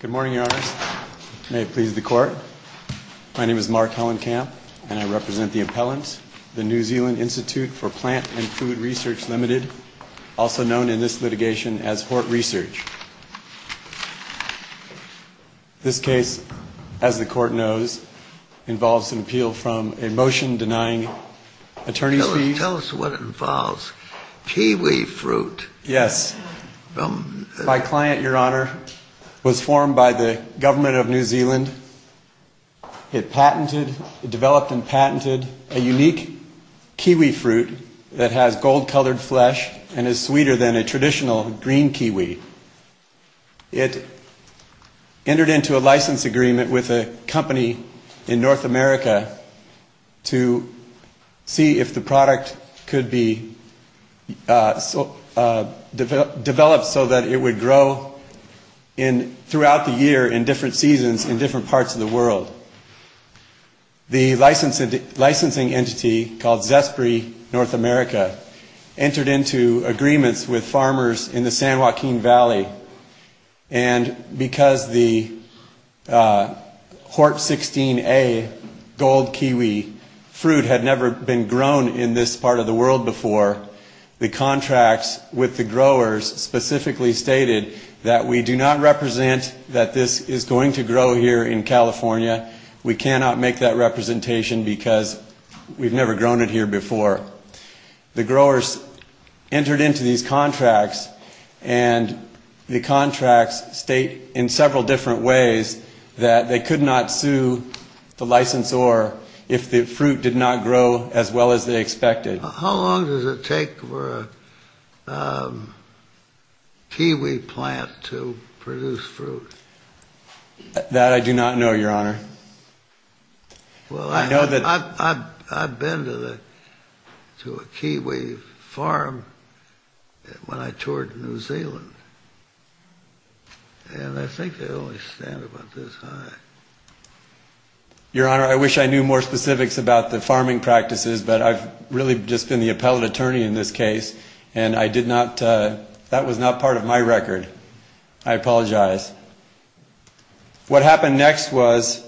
Good morning, Your Honors. May it please the Court. My name is Mark Hellenkamp, and I represent the appellant, the New Zealand Institute for Plant and Food Research, Ltd., also known in this litigation as Hort Research. This case, as the Court knows, involves an appeal from a motion denying attorney's fees. Tell us what it involves. Kiwi fruit. Yes. My client, Your Honor, was formed by the government of New Zealand. It developed and patented a unique kiwi fruit that has gold-colored flesh and is sweeter than a traditional green kiwi. It entered into a license agreement with a company in North America to see if the product could be developed so that it would grow throughout the year in different seasons in different parts of the world. The licensing entity, called Zespri North America, entered into agreements with farmers in the San Joaquin Valley, and because the Hort 16A gold kiwi fruit had never been grown in this part of the world before, the contracts with the growers specifically stated that we do not represent that this is going to grow here in California. We cannot make that representation because we've never grown it here before. The growers entered into these contracts, and the contracts state in several different ways that they could not sue the licensor if the fruit did not grow as well as they expected. How long does it take for a kiwi plant to produce fruit? That I do not know, Your Honor. Well, I've been to a kiwi farm when I toured New Zealand, and I think they only stay there about this high. Your Honor, I wish I knew more specifics about the farming practices, but I've really just been the appellate attorney in this case, and I did not, that was not part of my record. I apologize. What happened next was,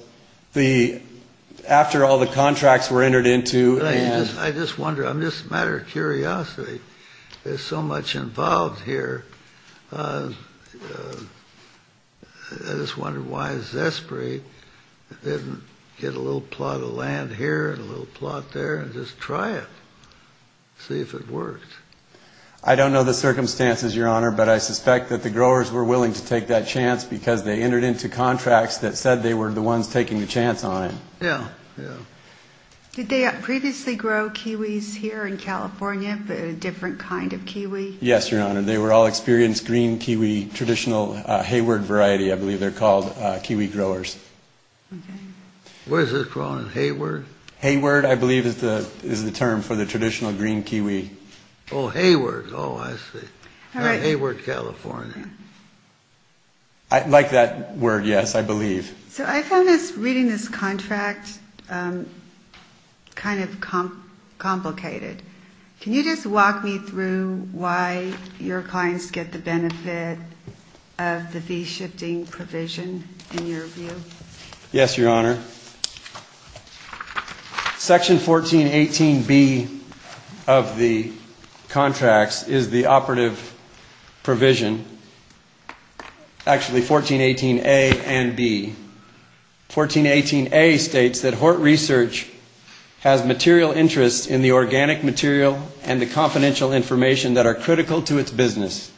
after all the contracts were entered into, and... I just wonder, I'm just a matter of curiosity. There's so much involved here. I just wonder why Zespri didn't get a little plot of land here, and a little plot there, and just try it, see if it worked. I don't know the circumstances, Your Honor, but I suspect that the growers were willing to take that chance because they entered into contracts that said they were the ones taking the chance on it. Yeah, yeah. Did they previously grow kiwis here in California, but a different kind of kiwi? Yes, Your Honor. They were all experienced green kiwi, traditional hayward variety, I believe, kiwi growers. Okay. What is this growing? Hayward? Hayward, I believe, is the term for the traditional green kiwi. Oh, hayward. Oh, I see. Hayward, California. I like that word, yes, I believe. So I found reading this contract kind of complicated. Can you just walk me through why your clients get the benefit of the V-shifting provision, in your view? Yes, Your Honor. Section 1418B of the contracts is the operative provision, actually 1418A and B. 1418A states that Hort Research has material interests in the organic material and the confidential information that are critical to its business.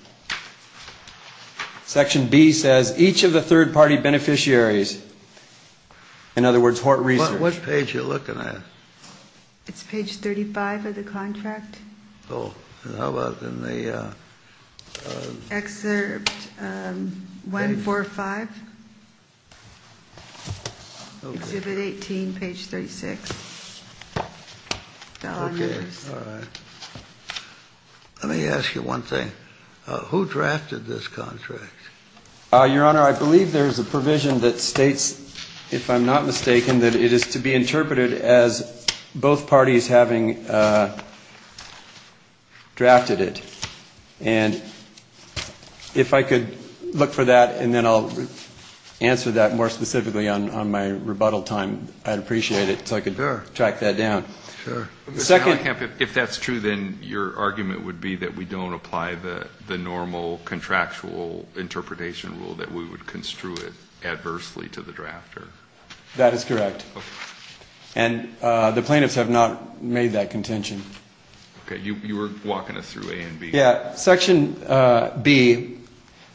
Section B says each of the third-party beneficiaries, in other words, Hort Research. What page are you looking at? It's page 35 of the contract. Oh, and how about in the... Excerpt 145, exhibit 18, page 36. Okay. All right. Let me ask you one thing. Who drafted this contract? Your Honor, I believe there is a provision that states, if I'm not mistaken, that it is to be interpreted as both parties having drafted it. And if I could look for that and then I'll answer that more specifically on my rebuttal time, I'd appreciate it. So I can track that down. If that's true, then your argument would be that we don't apply the normal contractual interpretation rule, that we would construe it adversely to the drafter. That is correct. And the plaintiffs have not made that contention. Okay. You were walking us through A and B. Section B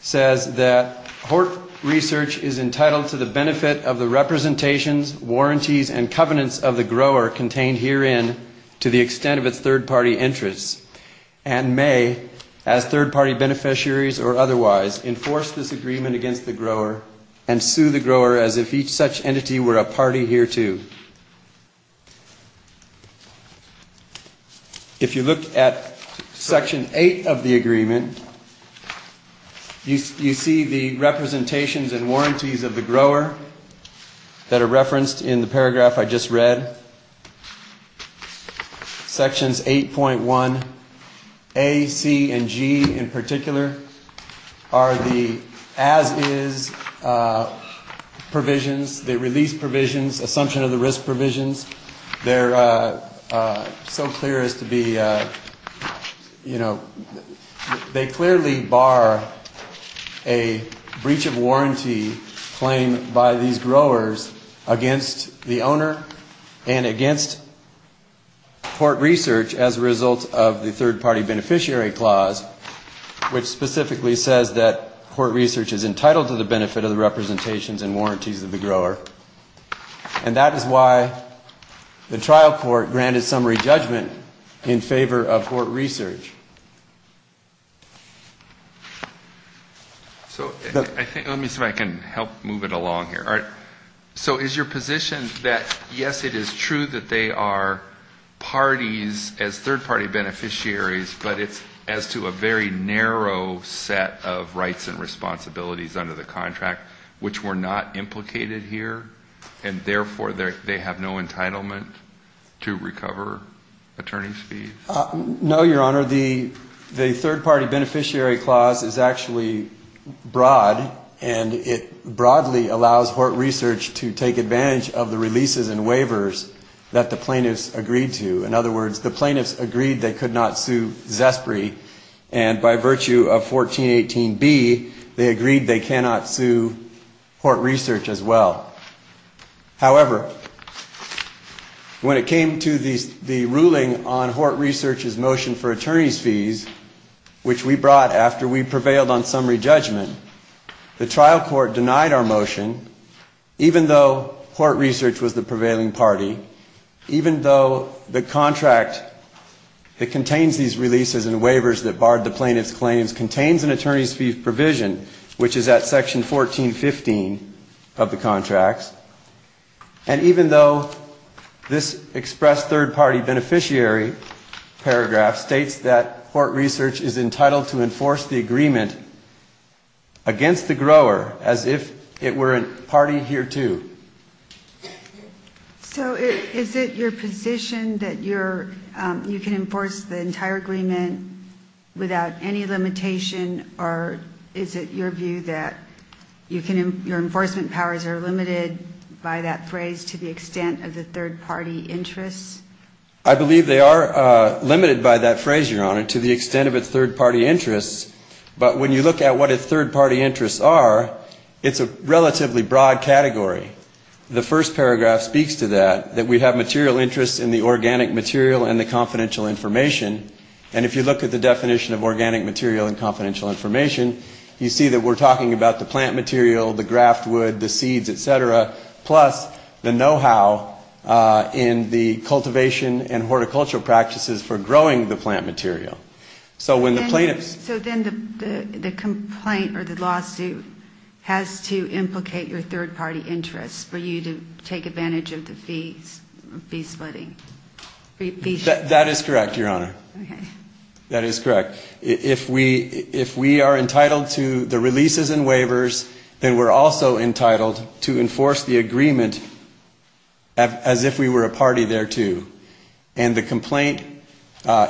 says that Hort Research is entitled to the benefit of the representations, warranties, and covenants of the grower contained herein to the extent of its third-party interests, and may, as third-party beneficiaries or otherwise, enforce this agreement against the grower and sue the grower as if each such entity were a party hereto. Thank you. If you look at Section 8 of the agreement, you see the representations and warranties of the grower that are referenced in the paragraph I just read. Sections 8.1A, C, and G in particular are the as-is provisions, the release provisions, assumption of the risk provisions. They're so clear as to be, you know, they clearly bar a breach of warranty claimed by these growers against the owner and against Hort Research as a result of the third-party beneficiary clause, which specifically says that Hort Research is entitled to the benefit of the representations and warranties of the grower. And that is why the trial court granted summary judgment in favor of Hort Research. So let me see if I can help move it along here. All right. So is your position that, yes, it is true that they are parties as third-party beneficiaries, but it's as to a very narrow set of rights and responsibilities under the contract which were not implicated here, and therefore they have no entitlement to recover attorney's fees? No, Your Honor. The third-party beneficiary clause is actually broad, and it broadly allows Hort Research to take advantage of the releases and waivers that the plaintiffs agreed to. In other words, the plaintiffs agreed they could not sue Zespri, and by virtue of 1418B, they agreed they cannot sue Hort Research as well. However, when it came to the ruling on Hort Research's motion for attorney's fees, which we brought after we prevailed on summary judgment, the trial court denied our motion, even though Hort Research was the prevailing party, even though the contract that contains these releases and waivers that barred the plaintiffs' claims contains an attorney's fee provision, which is at section 1415 of the contracts, and even though this expressed third-party beneficiary paragraph states that Hort Research is entitled to enforce the agreement against the grower as if it were a party hereto. So is it your position that you can enforce the entire agreement without any limitation, or is it your view that your enforcement powers are limited by that phrase to the extent of the third-party interests? I believe they are limited by that phrase, Your Honor, to the extent of its third-party interests, but when you look at what its third-party interests are, it's a relatively broad category. The first paragraph speaks to that, that we have material interests in the organic material and the confidential information, and if you look at the definition of organic material and confidential information, you see that we're talking about the plant material, the graft wood, the seeds, et cetera, plus the know-how in the cultivation and horticultural practices for growing the plant material. So then the complaint or the lawsuit has to implicate your third-party interests for you to take advantage of the fee splitting? That is correct, Your Honor. Okay. That is correct. If we are entitled to the releases and waivers, then we're also entitled to enforce the agreement as if we were a party thereto, and the complaint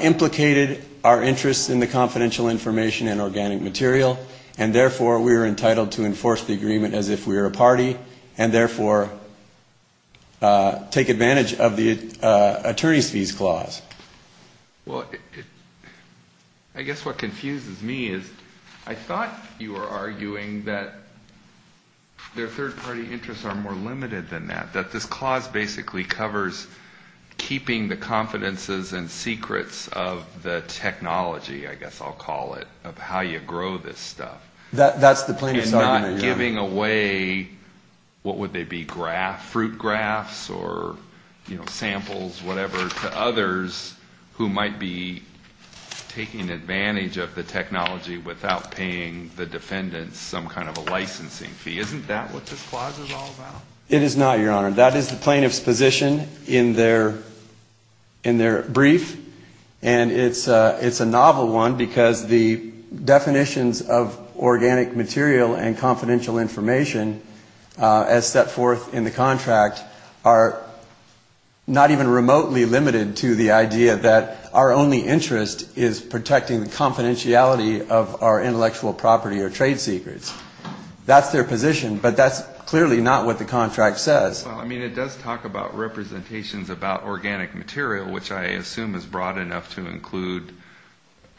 implicated our interests in the confidential information and organic material, and therefore we are entitled to enforce the agreement as if we were a party and therefore take advantage of the attorney's fees clause. Well, I guess what confuses me is I thought you were arguing that their third-party interests are more limited than that, that this clause basically covers keeping the confidences and secrets of the technology, I guess I'll call it, of how you grow this stuff. That's the plaintiff's argument, Your Honor. And not giving away, what would they be, fruit grafts or, you know, samples, whatever, to others who might be taking advantage of the technology without paying the defendants some kind of a licensing fee. Isn't that what this clause is all about? It is not, Your Honor. That is the plaintiff's position in their brief, and it's a novel one because the definitions of organic material and confidential information as set forth in the contract are not even remotely limited to the idea that our only interest is protecting the confidentiality of our intellectual property or trade secrets. That's their position, but that's clearly not what the contract says. Well, I mean, it does talk about representations about organic material, which I assume is broad enough to include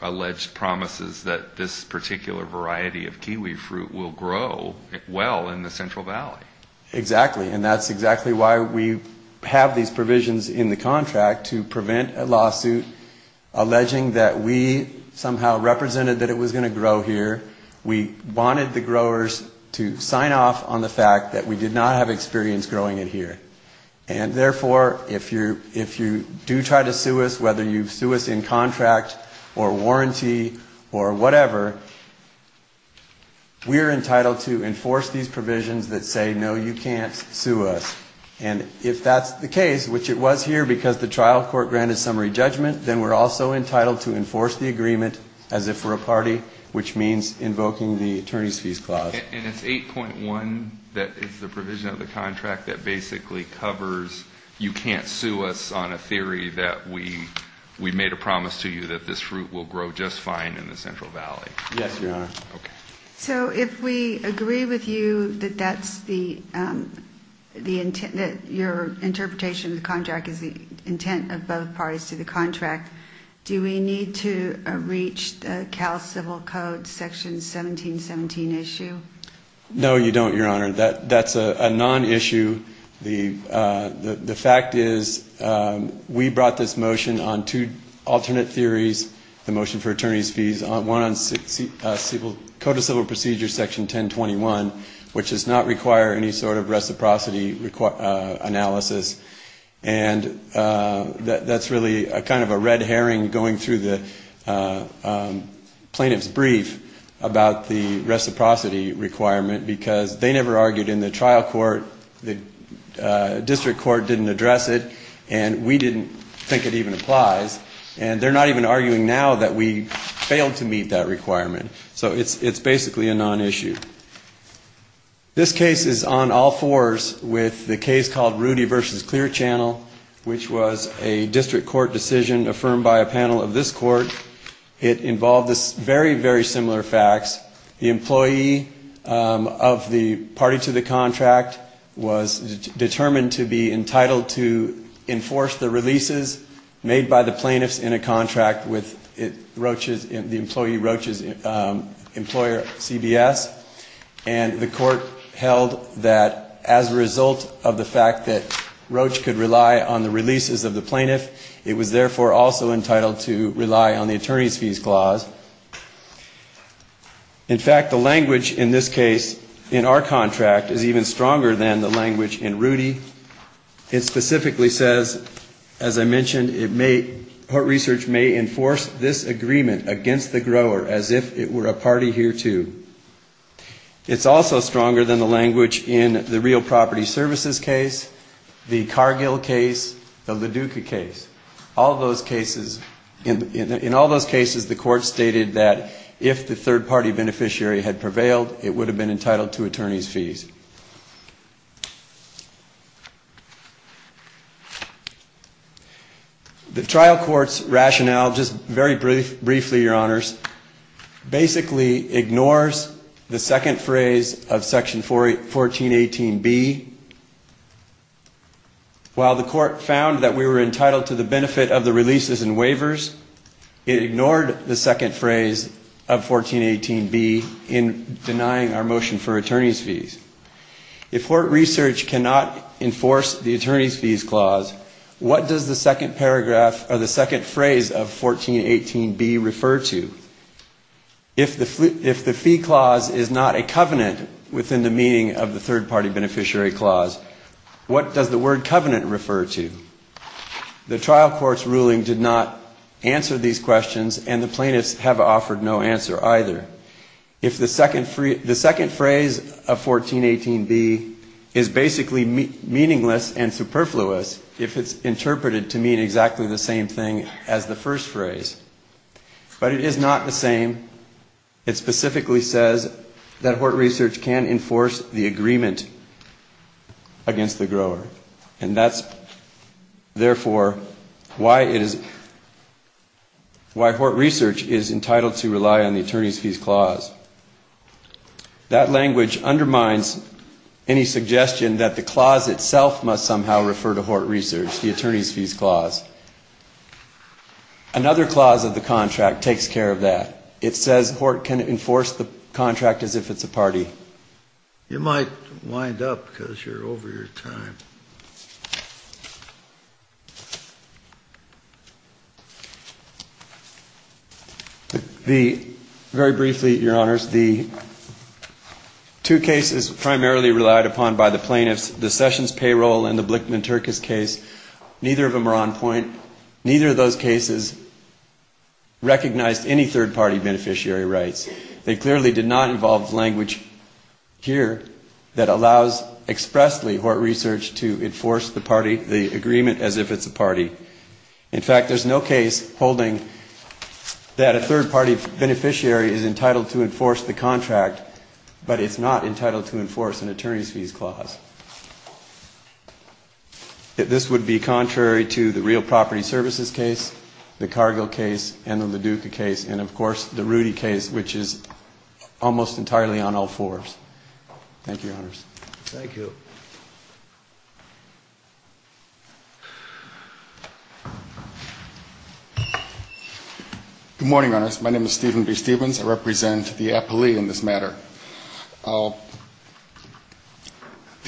alleged promises that this particular variety of kiwi fruit will grow well in the Central Valley. Exactly. And that's exactly why we have these provisions in the contract to prevent a lawsuit alleging that we somehow represented that it was going to grow here. We wanted the growers to sign off on the fact that we did not have experience growing it here. And therefore, if you do try to sue us, whether you sue us in contract or warranty or whatever, we are entitled to enforce these provisions that say, no, you can't sue us. And if that's the case, which it was here because the trial court granted summary judgment, then we're also entitled to enforce the agreement as if we're a party, which means invoking the attorney's fees clause. And it's 8.1 that is the provision of the contract that basically covers you can't sue us on a theory that we made a promise to you that this fruit will grow just fine in the Central Valley. Yes, Your Honor. So if we agree with you that that's the the intent that your interpretation of the contract is the intent of both parties to the contract. Do we need to reach the civil code section 1717 issue? No, you don't, Your Honor. That that's a non-issue. The fact is we brought this motion on two alternate theories. The motion for attorney's fees on one on civil code of civil procedure section 1021, which does not require any sort of reciprocity analysis. And that's really a kind of a red herring going through the plaintiff's brief about the reciprocity requirement because they never argued in the trial court. The district court didn't address it. And we didn't think it even applies. And they're not even arguing now that we failed to meet that requirement. So it's it's basically a non-issue. This case is on all fours with the case called Rudy versus Clear Channel, which was a district court decision affirmed by a panel of this court. It involved this very, very similar facts. The employee of the party to the contract was determined to be entitled to enforce the releases made by the plaintiffs in a contract with Roaches, the employee Roaches employer CBS. And the court held that as a result of the fact that Roach could rely on the releases of the plaintiff, it was therefore also entitled to rely on the attorney's fees clause. In fact, the language in this case in our contract is even stronger than the language in Rudy. It specifically says, as I mentioned, it may her research may enforce this agreement against the grower as if it were a party here, too. It's also stronger than the language in the real property services case, the Cargill case, the Leduca case. All those cases in all those cases, the court stated that if the third party beneficiary had prevailed, it would have been entitled to attorney's fees. The trial court's rationale, just very briefly, your honors, basically ignores the second phrase of section 1418B. While the court found that we were entitled to the benefit of the releases and waivers, it ignored the second phrase of 1418B in denying our motion for attorney's fees. If court research cannot enforce the attorney's fees clause, what does the second paragraph or the second phrase of 1418B refer to? If the fee clause is not a covenant within the meaning of the third party beneficiary clause, what does the word covenant refer to? The trial court's ruling did not answer these questions and the plaintiffs have offered no answer either. The second phrase of 1418B is basically meaningless and superfluous if it's interpreted to mean exactly the same thing as the first phrase. But it is not the same. It specifically says that Hort Research can enforce the agreement against the grower. And that's, therefore, why it is, why Hort Research is entitled to rely on the attorney's fees clause. That language undermines any suggestion that the clause itself must somehow refer to Hort Research, the attorney's fees clause. Another clause of the contract takes care of that. It says Hort can enforce the contract as if it's a party. You might wind up because you're over your time. Very briefly, Your Honors, the two cases primarily relied upon by the plaintiffs, the Sessions payroll and the Blickman-Turkus case, neither of them are on point. Neither of those cases recognized any third party beneficiary rights. They clearly did not involve language here that allows expressly Hort Research to enforce the party, the agreement as if it's a party. In fact, there's no case holding that a third party beneficiary is entitled to enforce the contract, but it's not entitled to enforce an attorney's fees clause. This would be contrary to the Real Property Services case, the Cargill case, and the Leduca case, and, of course, the Rudy case, which is almost entirely on all fours. Thank you, Your Honors. Thank you. Good morning, Your Honors. My name is Stephen B. Stevens. I represent the appellee in this matter. The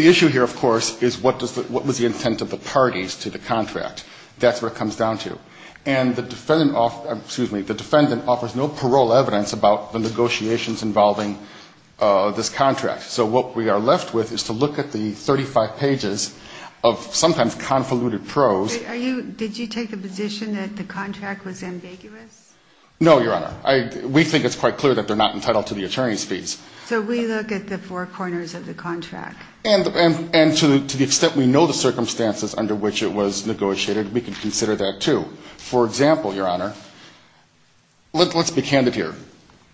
issue here, of course, is what was the intent of the parties to the contract. That's what it comes down to. And the defendant offers no parole evidence about the negotiations involving this contract. So what we are left with is to look at the 35 pages of sometimes convoluted prose. Did you take the position that the contract was ambiguous? No, Your Honor. We think it's quite clear that they're not entitled to the attorney's fees. So we look at the four corners of the contract. And to the extent we know the circumstances under which it was negotiated, we can consider that, too. For example, Your Honor, let's be candid here.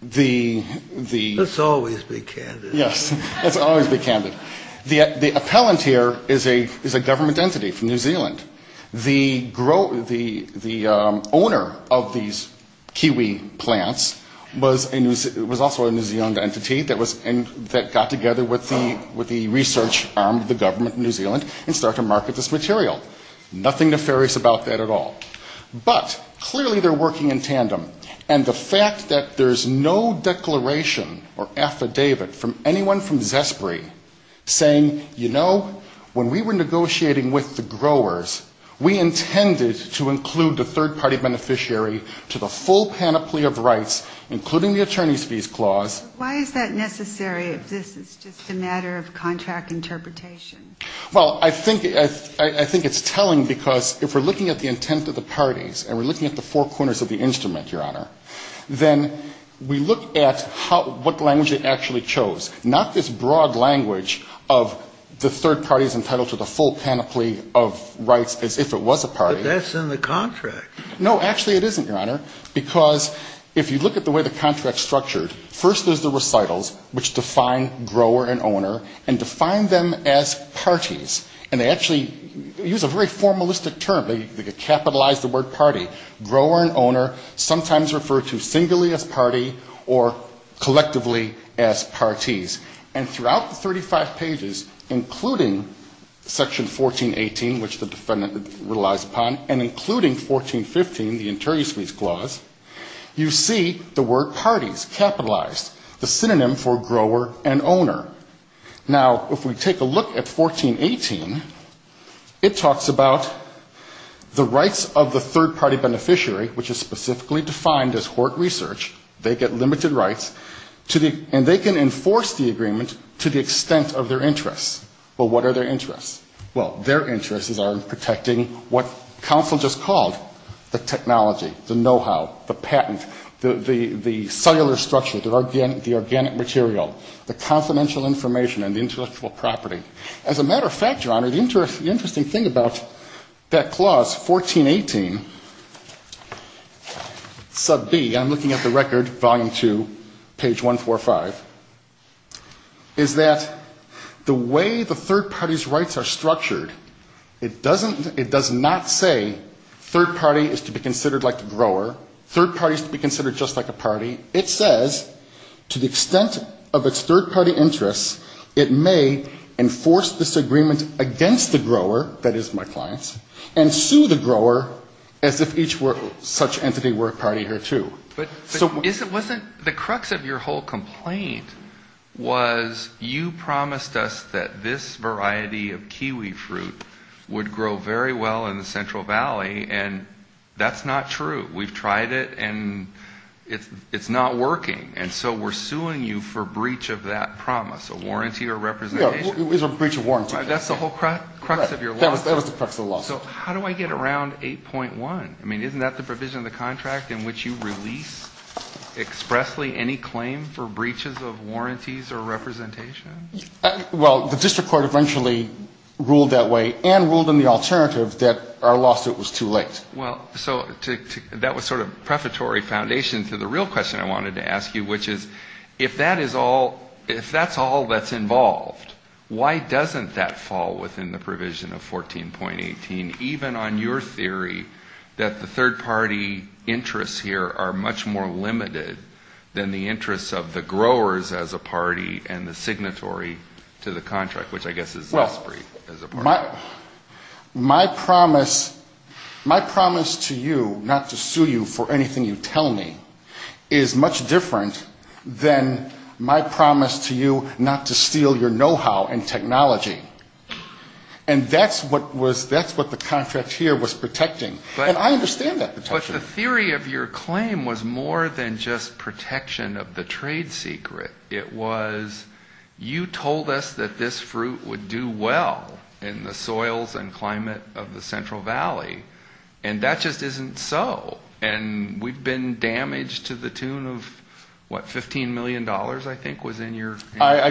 Let's always be candid. Yes, let's always be candid. The appellant here is a government entity from New Zealand. The owner of these kiwi plants was also a New Zealand entity that got together with the research arm of the government in New Zealand and started to market this material. Nothing nefarious about that at all. But clearly they're working in tandem. And the fact that there's no declaration or affidavit from anyone from Zespri saying, you know, when we were negotiating with the growers, we intended to include the third-party beneficiary to the full panoply of rights, including the attorney's fees clause. Why is that necessary if this is just a matter of contract interpretation? Well, I think it's telling because if we're looking at the intent of the parties and we're looking at the four corners of the instrument, Your Honor, then we look at what language they actually chose, not this broad language of the third party is entitled to the full panoply of rights as if it was a party. But that's in the contract. No, actually it isn't, Your Honor, because if you look at the way the contract's structured, first there's the recitals, which define grower and owner, and define them as parties. And they actually use a very formalistic term. They capitalize the word party. Grower and owner sometimes refer to singly as party or collectively as parties. And throughout the 35 pages, including Section 1418, which the defendant relies upon, and including 1415, the attorney's fees clause, you see the word parties capitalized, the synonym for grower and owner. Now, if we take a look at 1418, it talks about the rights of the third party beneficiary, which is specifically defined as Hort Research, they get limited rights, and they can enforce the agreement to the extent of their interests. Well, what are their interests? Well, their interests are in protecting what counsel just called the technology, the know-how, the patent, the cellular structure, the organic material, the confidential information, and the intellectual property. As a matter of fact, Your Honor, the interesting thing about that clause, 1418, sub B, I'm looking at the record, volume 2, page 145, is that the way the third party's rights are structured, it doesn't say third party is to be considered like the grower, third party is to be considered just like a party. It says to the extent of its third party interests, it may enforce this agreement against the grower, that is my clients, and sue the grower as if each such entity were a party or two. But wasn't the crux of your whole complaint was you promised us that this variety of kiwi fruit would grow very well in the Central Valley, and that's not true. We've tried it, and it's not working. And so we're suing you for breach of that promise, a warranty or representation. It was a breach of warranty. That's the whole crux of your lawsuit. That was the crux of the lawsuit. So how do I get around 8.1? I mean, isn't that the provision of the contract in which you release expressly any claim for breaches of warranties or representation? That was sort of prefatory foundation to the real question I wanted to ask you, which is if that is all, if that's all that's involved, why doesn't that fall within the provision of 14.18, even on your theory that the third party interests here are much more limited than the interests of the growers as a party and the signatory to the contract, which I guess is less brief as a party. My promise to you not to sue you for anything you tell me is much different than my promise to you not to steal your know-how and technology. And that's what the contract here was protecting. And I understand that protection. But the theory of your claim was more than just protection of the trade secret. It was you told us that this fruit would do well in the Central Valley. And that just isn't so. And we've been damaged to the tune of, what, $15 million, I think, was in your... I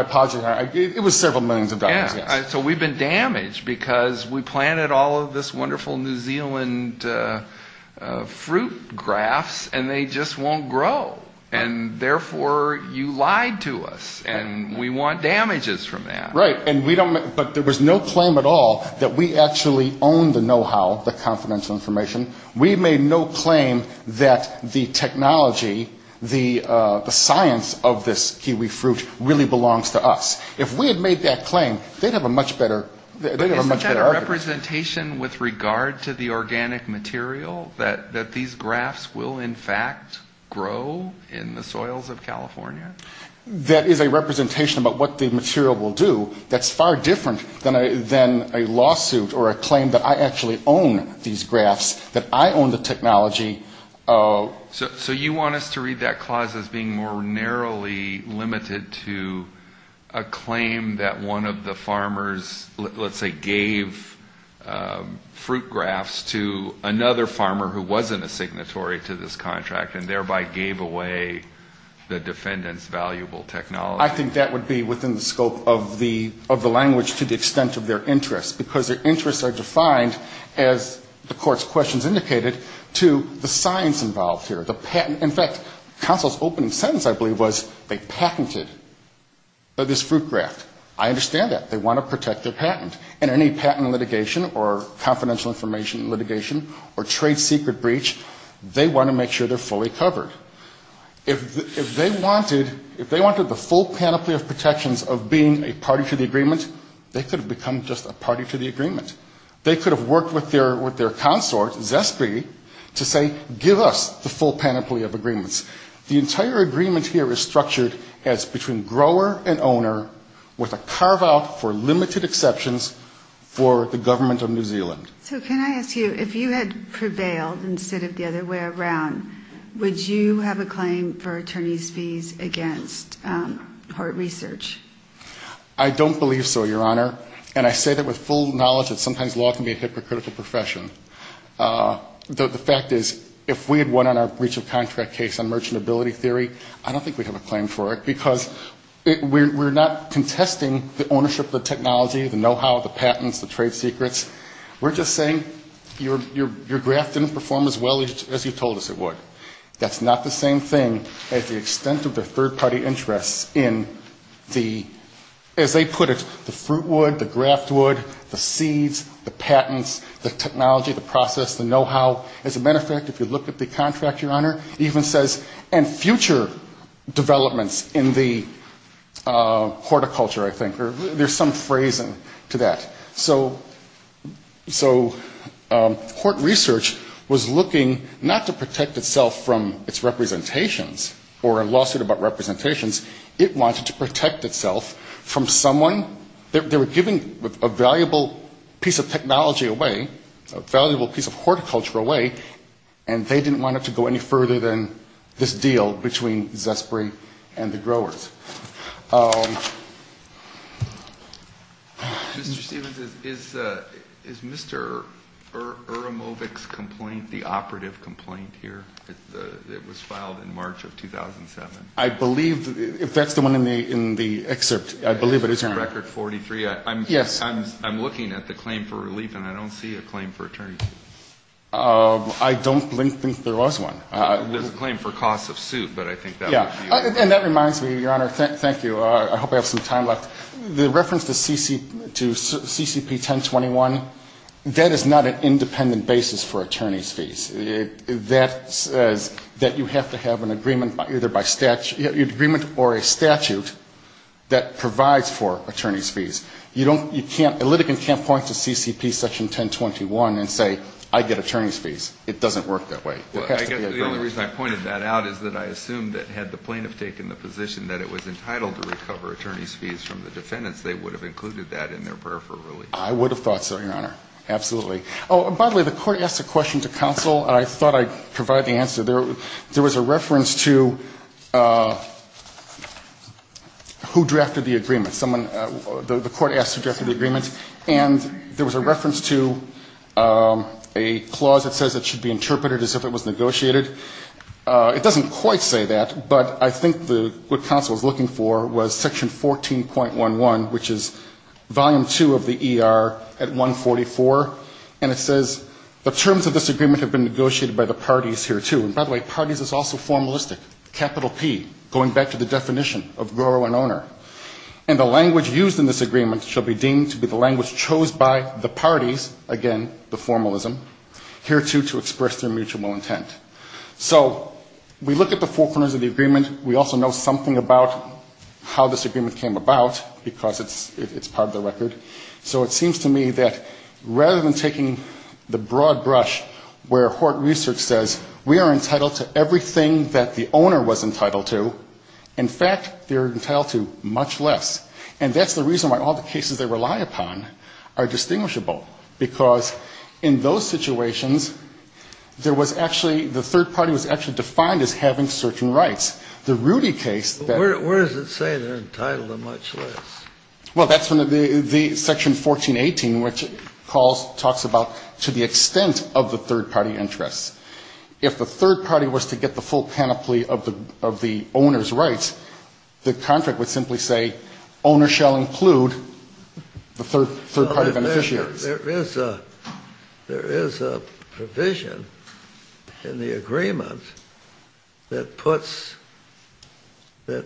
apologize. It was several millions of dollars. So we've been damaged because we planted all of this wonderful New Zealand fruit grafts and they just won't grow. And therefore you lied to us and we want damages from that. Right. But there was no claim at all that we actually owned the know-how, the confidential information. We made no claim that the technology, the science of this kiwi fruit really belongs to us. If we had made that claim, they'd have a much better argument. Isn't that a representation with regard to the organic material that these grafts will, in fact, grow in the soils of California? That is a representation about what the material will do. That's far different than a lawsuit or a claim that I actually own these grafts, that I own the technology. So you want us to read that clause as being more narrowly limited to a claim that one of the farmers, let's say, gave fruit grafts to another farmer who wasn't a signatory to this contract and thereby gave away the defendants' property. I think that would be within the scope of the language to the extent of their interests. Because their interests are defined, as the court's questions indicated, to the science involved here. In fact, counsel's opening sentence, I believe, was they patented this fruit graft. I understand that. They want to protect their patent. And any patent litigation or confidential information litigation or trade secret breach, they want to make sure they're fully covered. If they wanted the full panoply of protections of being a party to the agreement, they could have become just a party to the agreement. They could have worked with their consort, Zespri, to say, give us the full panoply of agreements. The entire agreement here is structured as between grower and owner with a carve-out for limited exceptions for the government of New Zealand. So can I ask you, if you had prevailed instead of the other way around, would you have a claim for attorney's fees against Hart Research? I don't believe so, Your Honor. And I say that with full knowledge that sometimes law can be a hypocritical profession. The fact is, if we had won on our breach of contract case on merchantability theory, I don't think we'd have a claim for it. Because we're not contesting the ownership of the technology, the know-how, the patents, the trade secrets. We're just saying your graft didn't perform as well as you told us it would. That's not the same thing as the extent of the third-party interests in the, as they put it, the fruit wood, the graft wood, the seeds, the patents, the technology, the process, the know-how. As a matter of fact, if you look at the contract, Your Honor, it even says, and future developments in the horticulture, I think, there's some phrasing to that. So, so, Hart Research was looking not to protect itself from its representations or a lawsuit about representations. It wanted to protect itself from someone, they were giving a valuable piece of technology away, a valuable piece of horticulture away, and they didn't want it to go any further than this deal between Zespri and the growers. Mr. Stevens, is Mr. Uramovic's complaint the operative complaint here that was filed in March of 2007? I believe, if that's the one in the excerpt, I believe it is, Your Honor. Record 43. Yes. I'm looking at the claim for relief, and I don't see a claim for attorney. I don't think there was one. There's a claim for cost of suit, but I think that would be it. And that reminds me, Your Honor, thank you. I hope I have some time left. The reference to CCP 1021, that is not an independent basis for attorney's fees. That says that you have to have an agreement, either by statute, agreement or a statute that provides for attorney's fees. You don't, you can't, a litigant can't point to CCP section 1021 and say, I get attorney's fees. It doesn't work that way. Well, I guess the only reason I pointed that out is that I assumed that had the plaintiff taken the position that it was entitled to recover attorney's fees from the defendants, they would have included that in their prayer for relief. I would have thought so, Your Honor. Absolutely. Oh, and by the way, the Court asked a question to counsel, and I thought I'd provide the answer. There was a reference to who drafted the agreement. Someone, the Court asked who drafted the agreement, and there was a reference to a clause that says it should be interpreted as if it was negotiated. It doesn't quite say that, but I think what counsel was looking for was section 14.11, which is volume two of the ER at 144, and it says the terms of this agreement have been negotiated by the parties here, too. And by the way, parties is also formalistic, capital P, going back to the definition of grower and owner. And the language used in this agreement shall be deemed to be the language chose by the parties, again, the formalism, here, too, to express their mutual intent. So we look at the four corners of the agreement. We also know something about how this agreement came about, because it's part of the record. So it seems to me that rather than taking the broad brush where Hort Research says we are entitled to everything that the owner was entitled to, in fact, they're entitled to much less. And that's the reason why all the cases they rely upon are distinguishable, because in those situations, there was actually the third party was actually defined as having certain rights. The Rudy case that ---- Where does it say they're entitled to much less? Well, that's from the section 14.18, which talks about to the extent of the third party interests. If the third party was to get the full panoply of the owner's rights, the contract would simply say owner shall include the third party beneficiaries. There is a provision in the agreement that puts the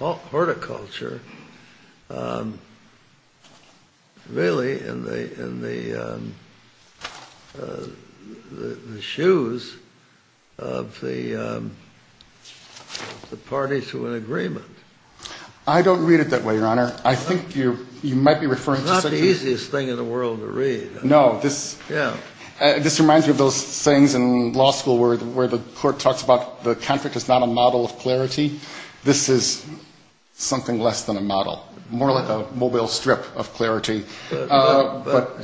horticulture really in the shoes of the party to an agreement. I don't read it that way, Your Honor. I think you might be referring to something ---- It's not the easiest thing in the world to read. No. Yeah. This reminds me of those sayings in law school where the court talks about the contract is not a model of clarity. This is something less than a model, more like a mobile strip of clarity. But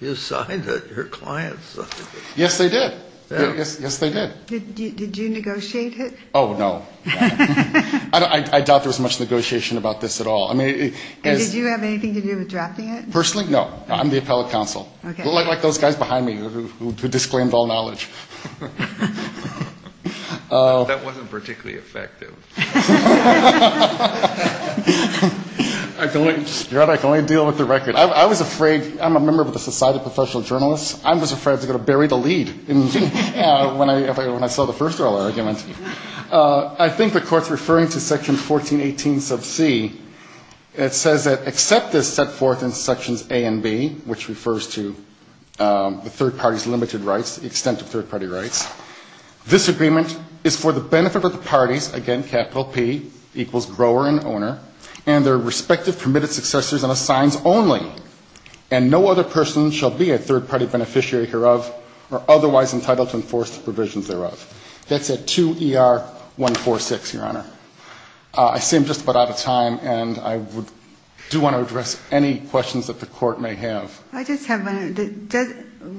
you signed it. Your client signed it. Yes, they did. Yes, they did. Did you negotiate it? Oh, no. I doubt there was much negotiation about this at all. I mean ---- And did you have anything to do with drafting it? Personally, no. I'm the appellate counsel. Okay. Like those guys behind me who disclaimed all knowledge. That wasn't particularly effective. Your Honor, I can only deal with the record. I was afraid ---- I'm a member of the Society of Professional Journalists. I was afraid I was going to bury the lead when I saw the first oral argument. I think the Court's referring to Section 1418 sub c. It says that except as set forth in Sections A and B, which refers to the third party's limited rights, the extent of third party rights, this agreement is for the benefit of the parties, again, capital P, equals grower and owner, and their respective permitted successors and assigns only. And no other person shall be a third party beneficiary hereof or otherwise entitled to enforce the provisions thereof. That's at 2ER146, Your Honor. I seem just about out of time, and I do want to address any questions that the Court may have. I just have one.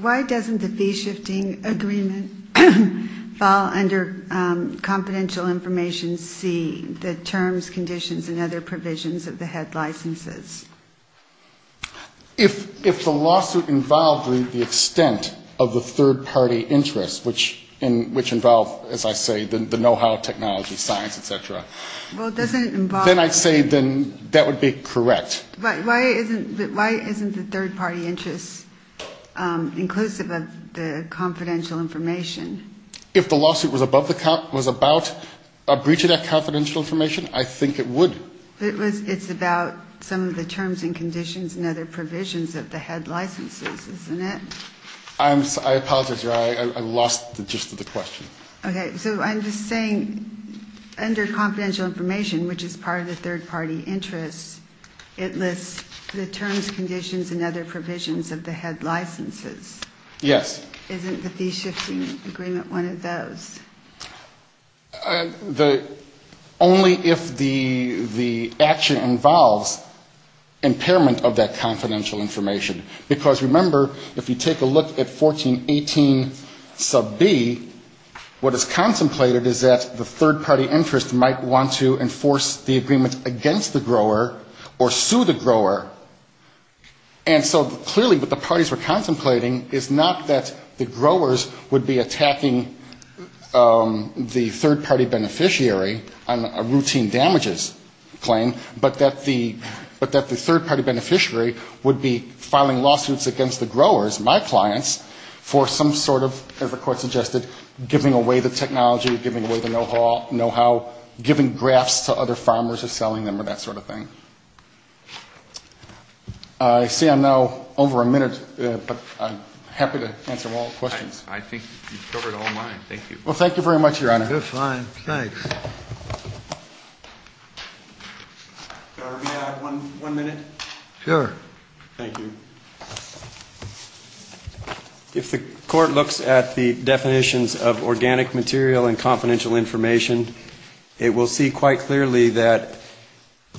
Why doesn't the fee shifting agreement fall under confidential information C, the terms, conditions, and other provisions of the head licenses? If the lawsuit involved the extent of the third party interest, which involve, as I say, the know-how, technology, science, et cetera, then I'd say that would be correct. But why isn't the third party interest inclusive of the confidential information? If the lawsuit was about a breach of that confidential information, I think it would. It's about some of the terms and conditions and other provisions of the head licenses, isn't it? I apologize, Your Honor. I lost the gist of the question. Okay. So I'm just saying under confidential information, which is part of the third party interest, it lists the terms, conditions, and other provisions of the head licenses. Yes. Isn't the fee shifting agreement one of those? Only if the action involves impairment of that confidential information. Because remember, if you take a look at 1418 sub B, what is contemplated is that the third party interest might want to enforce the agreement against the grower or sue the grower. And so clearly what the parties were contemplating is not that the growers would be attacking the third party beneficiary on a routine damages claim, but that the third party beneficiary would be filing lawsuits against the growers, my clients, for some sort of, as the Court suggested, giving away the technology, giving away the know-how, giving grafts to other farmers or selling them or that sort of thing. I see I'm now over a minute, but I'm happy to answer all questions. I think you've covered all mine. Thank you. Well, thank you very much, Your Honor. Good. Fine. Thanks. One minute. Sure. Thank you. If the Court looks at the definitions of organic material and confidential information, it will see quite clearly that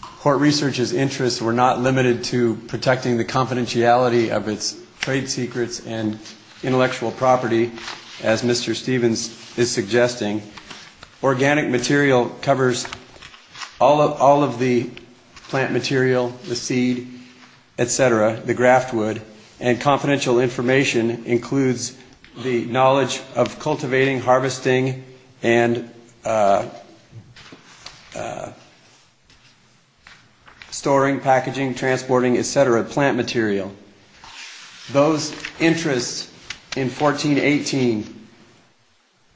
court researchers' interests were not limited to protecting the confidentiality of its trade property, as Mr. Stevens is suggesting. Organic material covers all of the plant material, the seed, et cetera, the graft wood, and confidential information includes the knowledge of cultivating, harvesting, and storing, packaging, transporting, et cetera, plant material. Those interests in 1418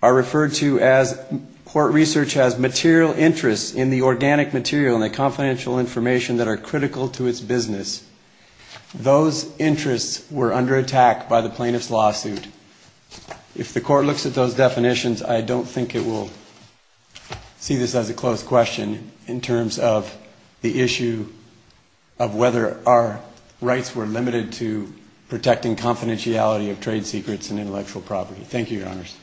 are referred to as, court research has, material interests in the organic material and the confidential information that are critical to its business. Those interests were under attack by the plaintiff's lawsuit. If the Court looks at those definitions, I don't think it will see this as a close question in terms of the issue of whether our rights were limited to protecting confidentiality of trade secrets and intellectual property. Thank you, Your Honors.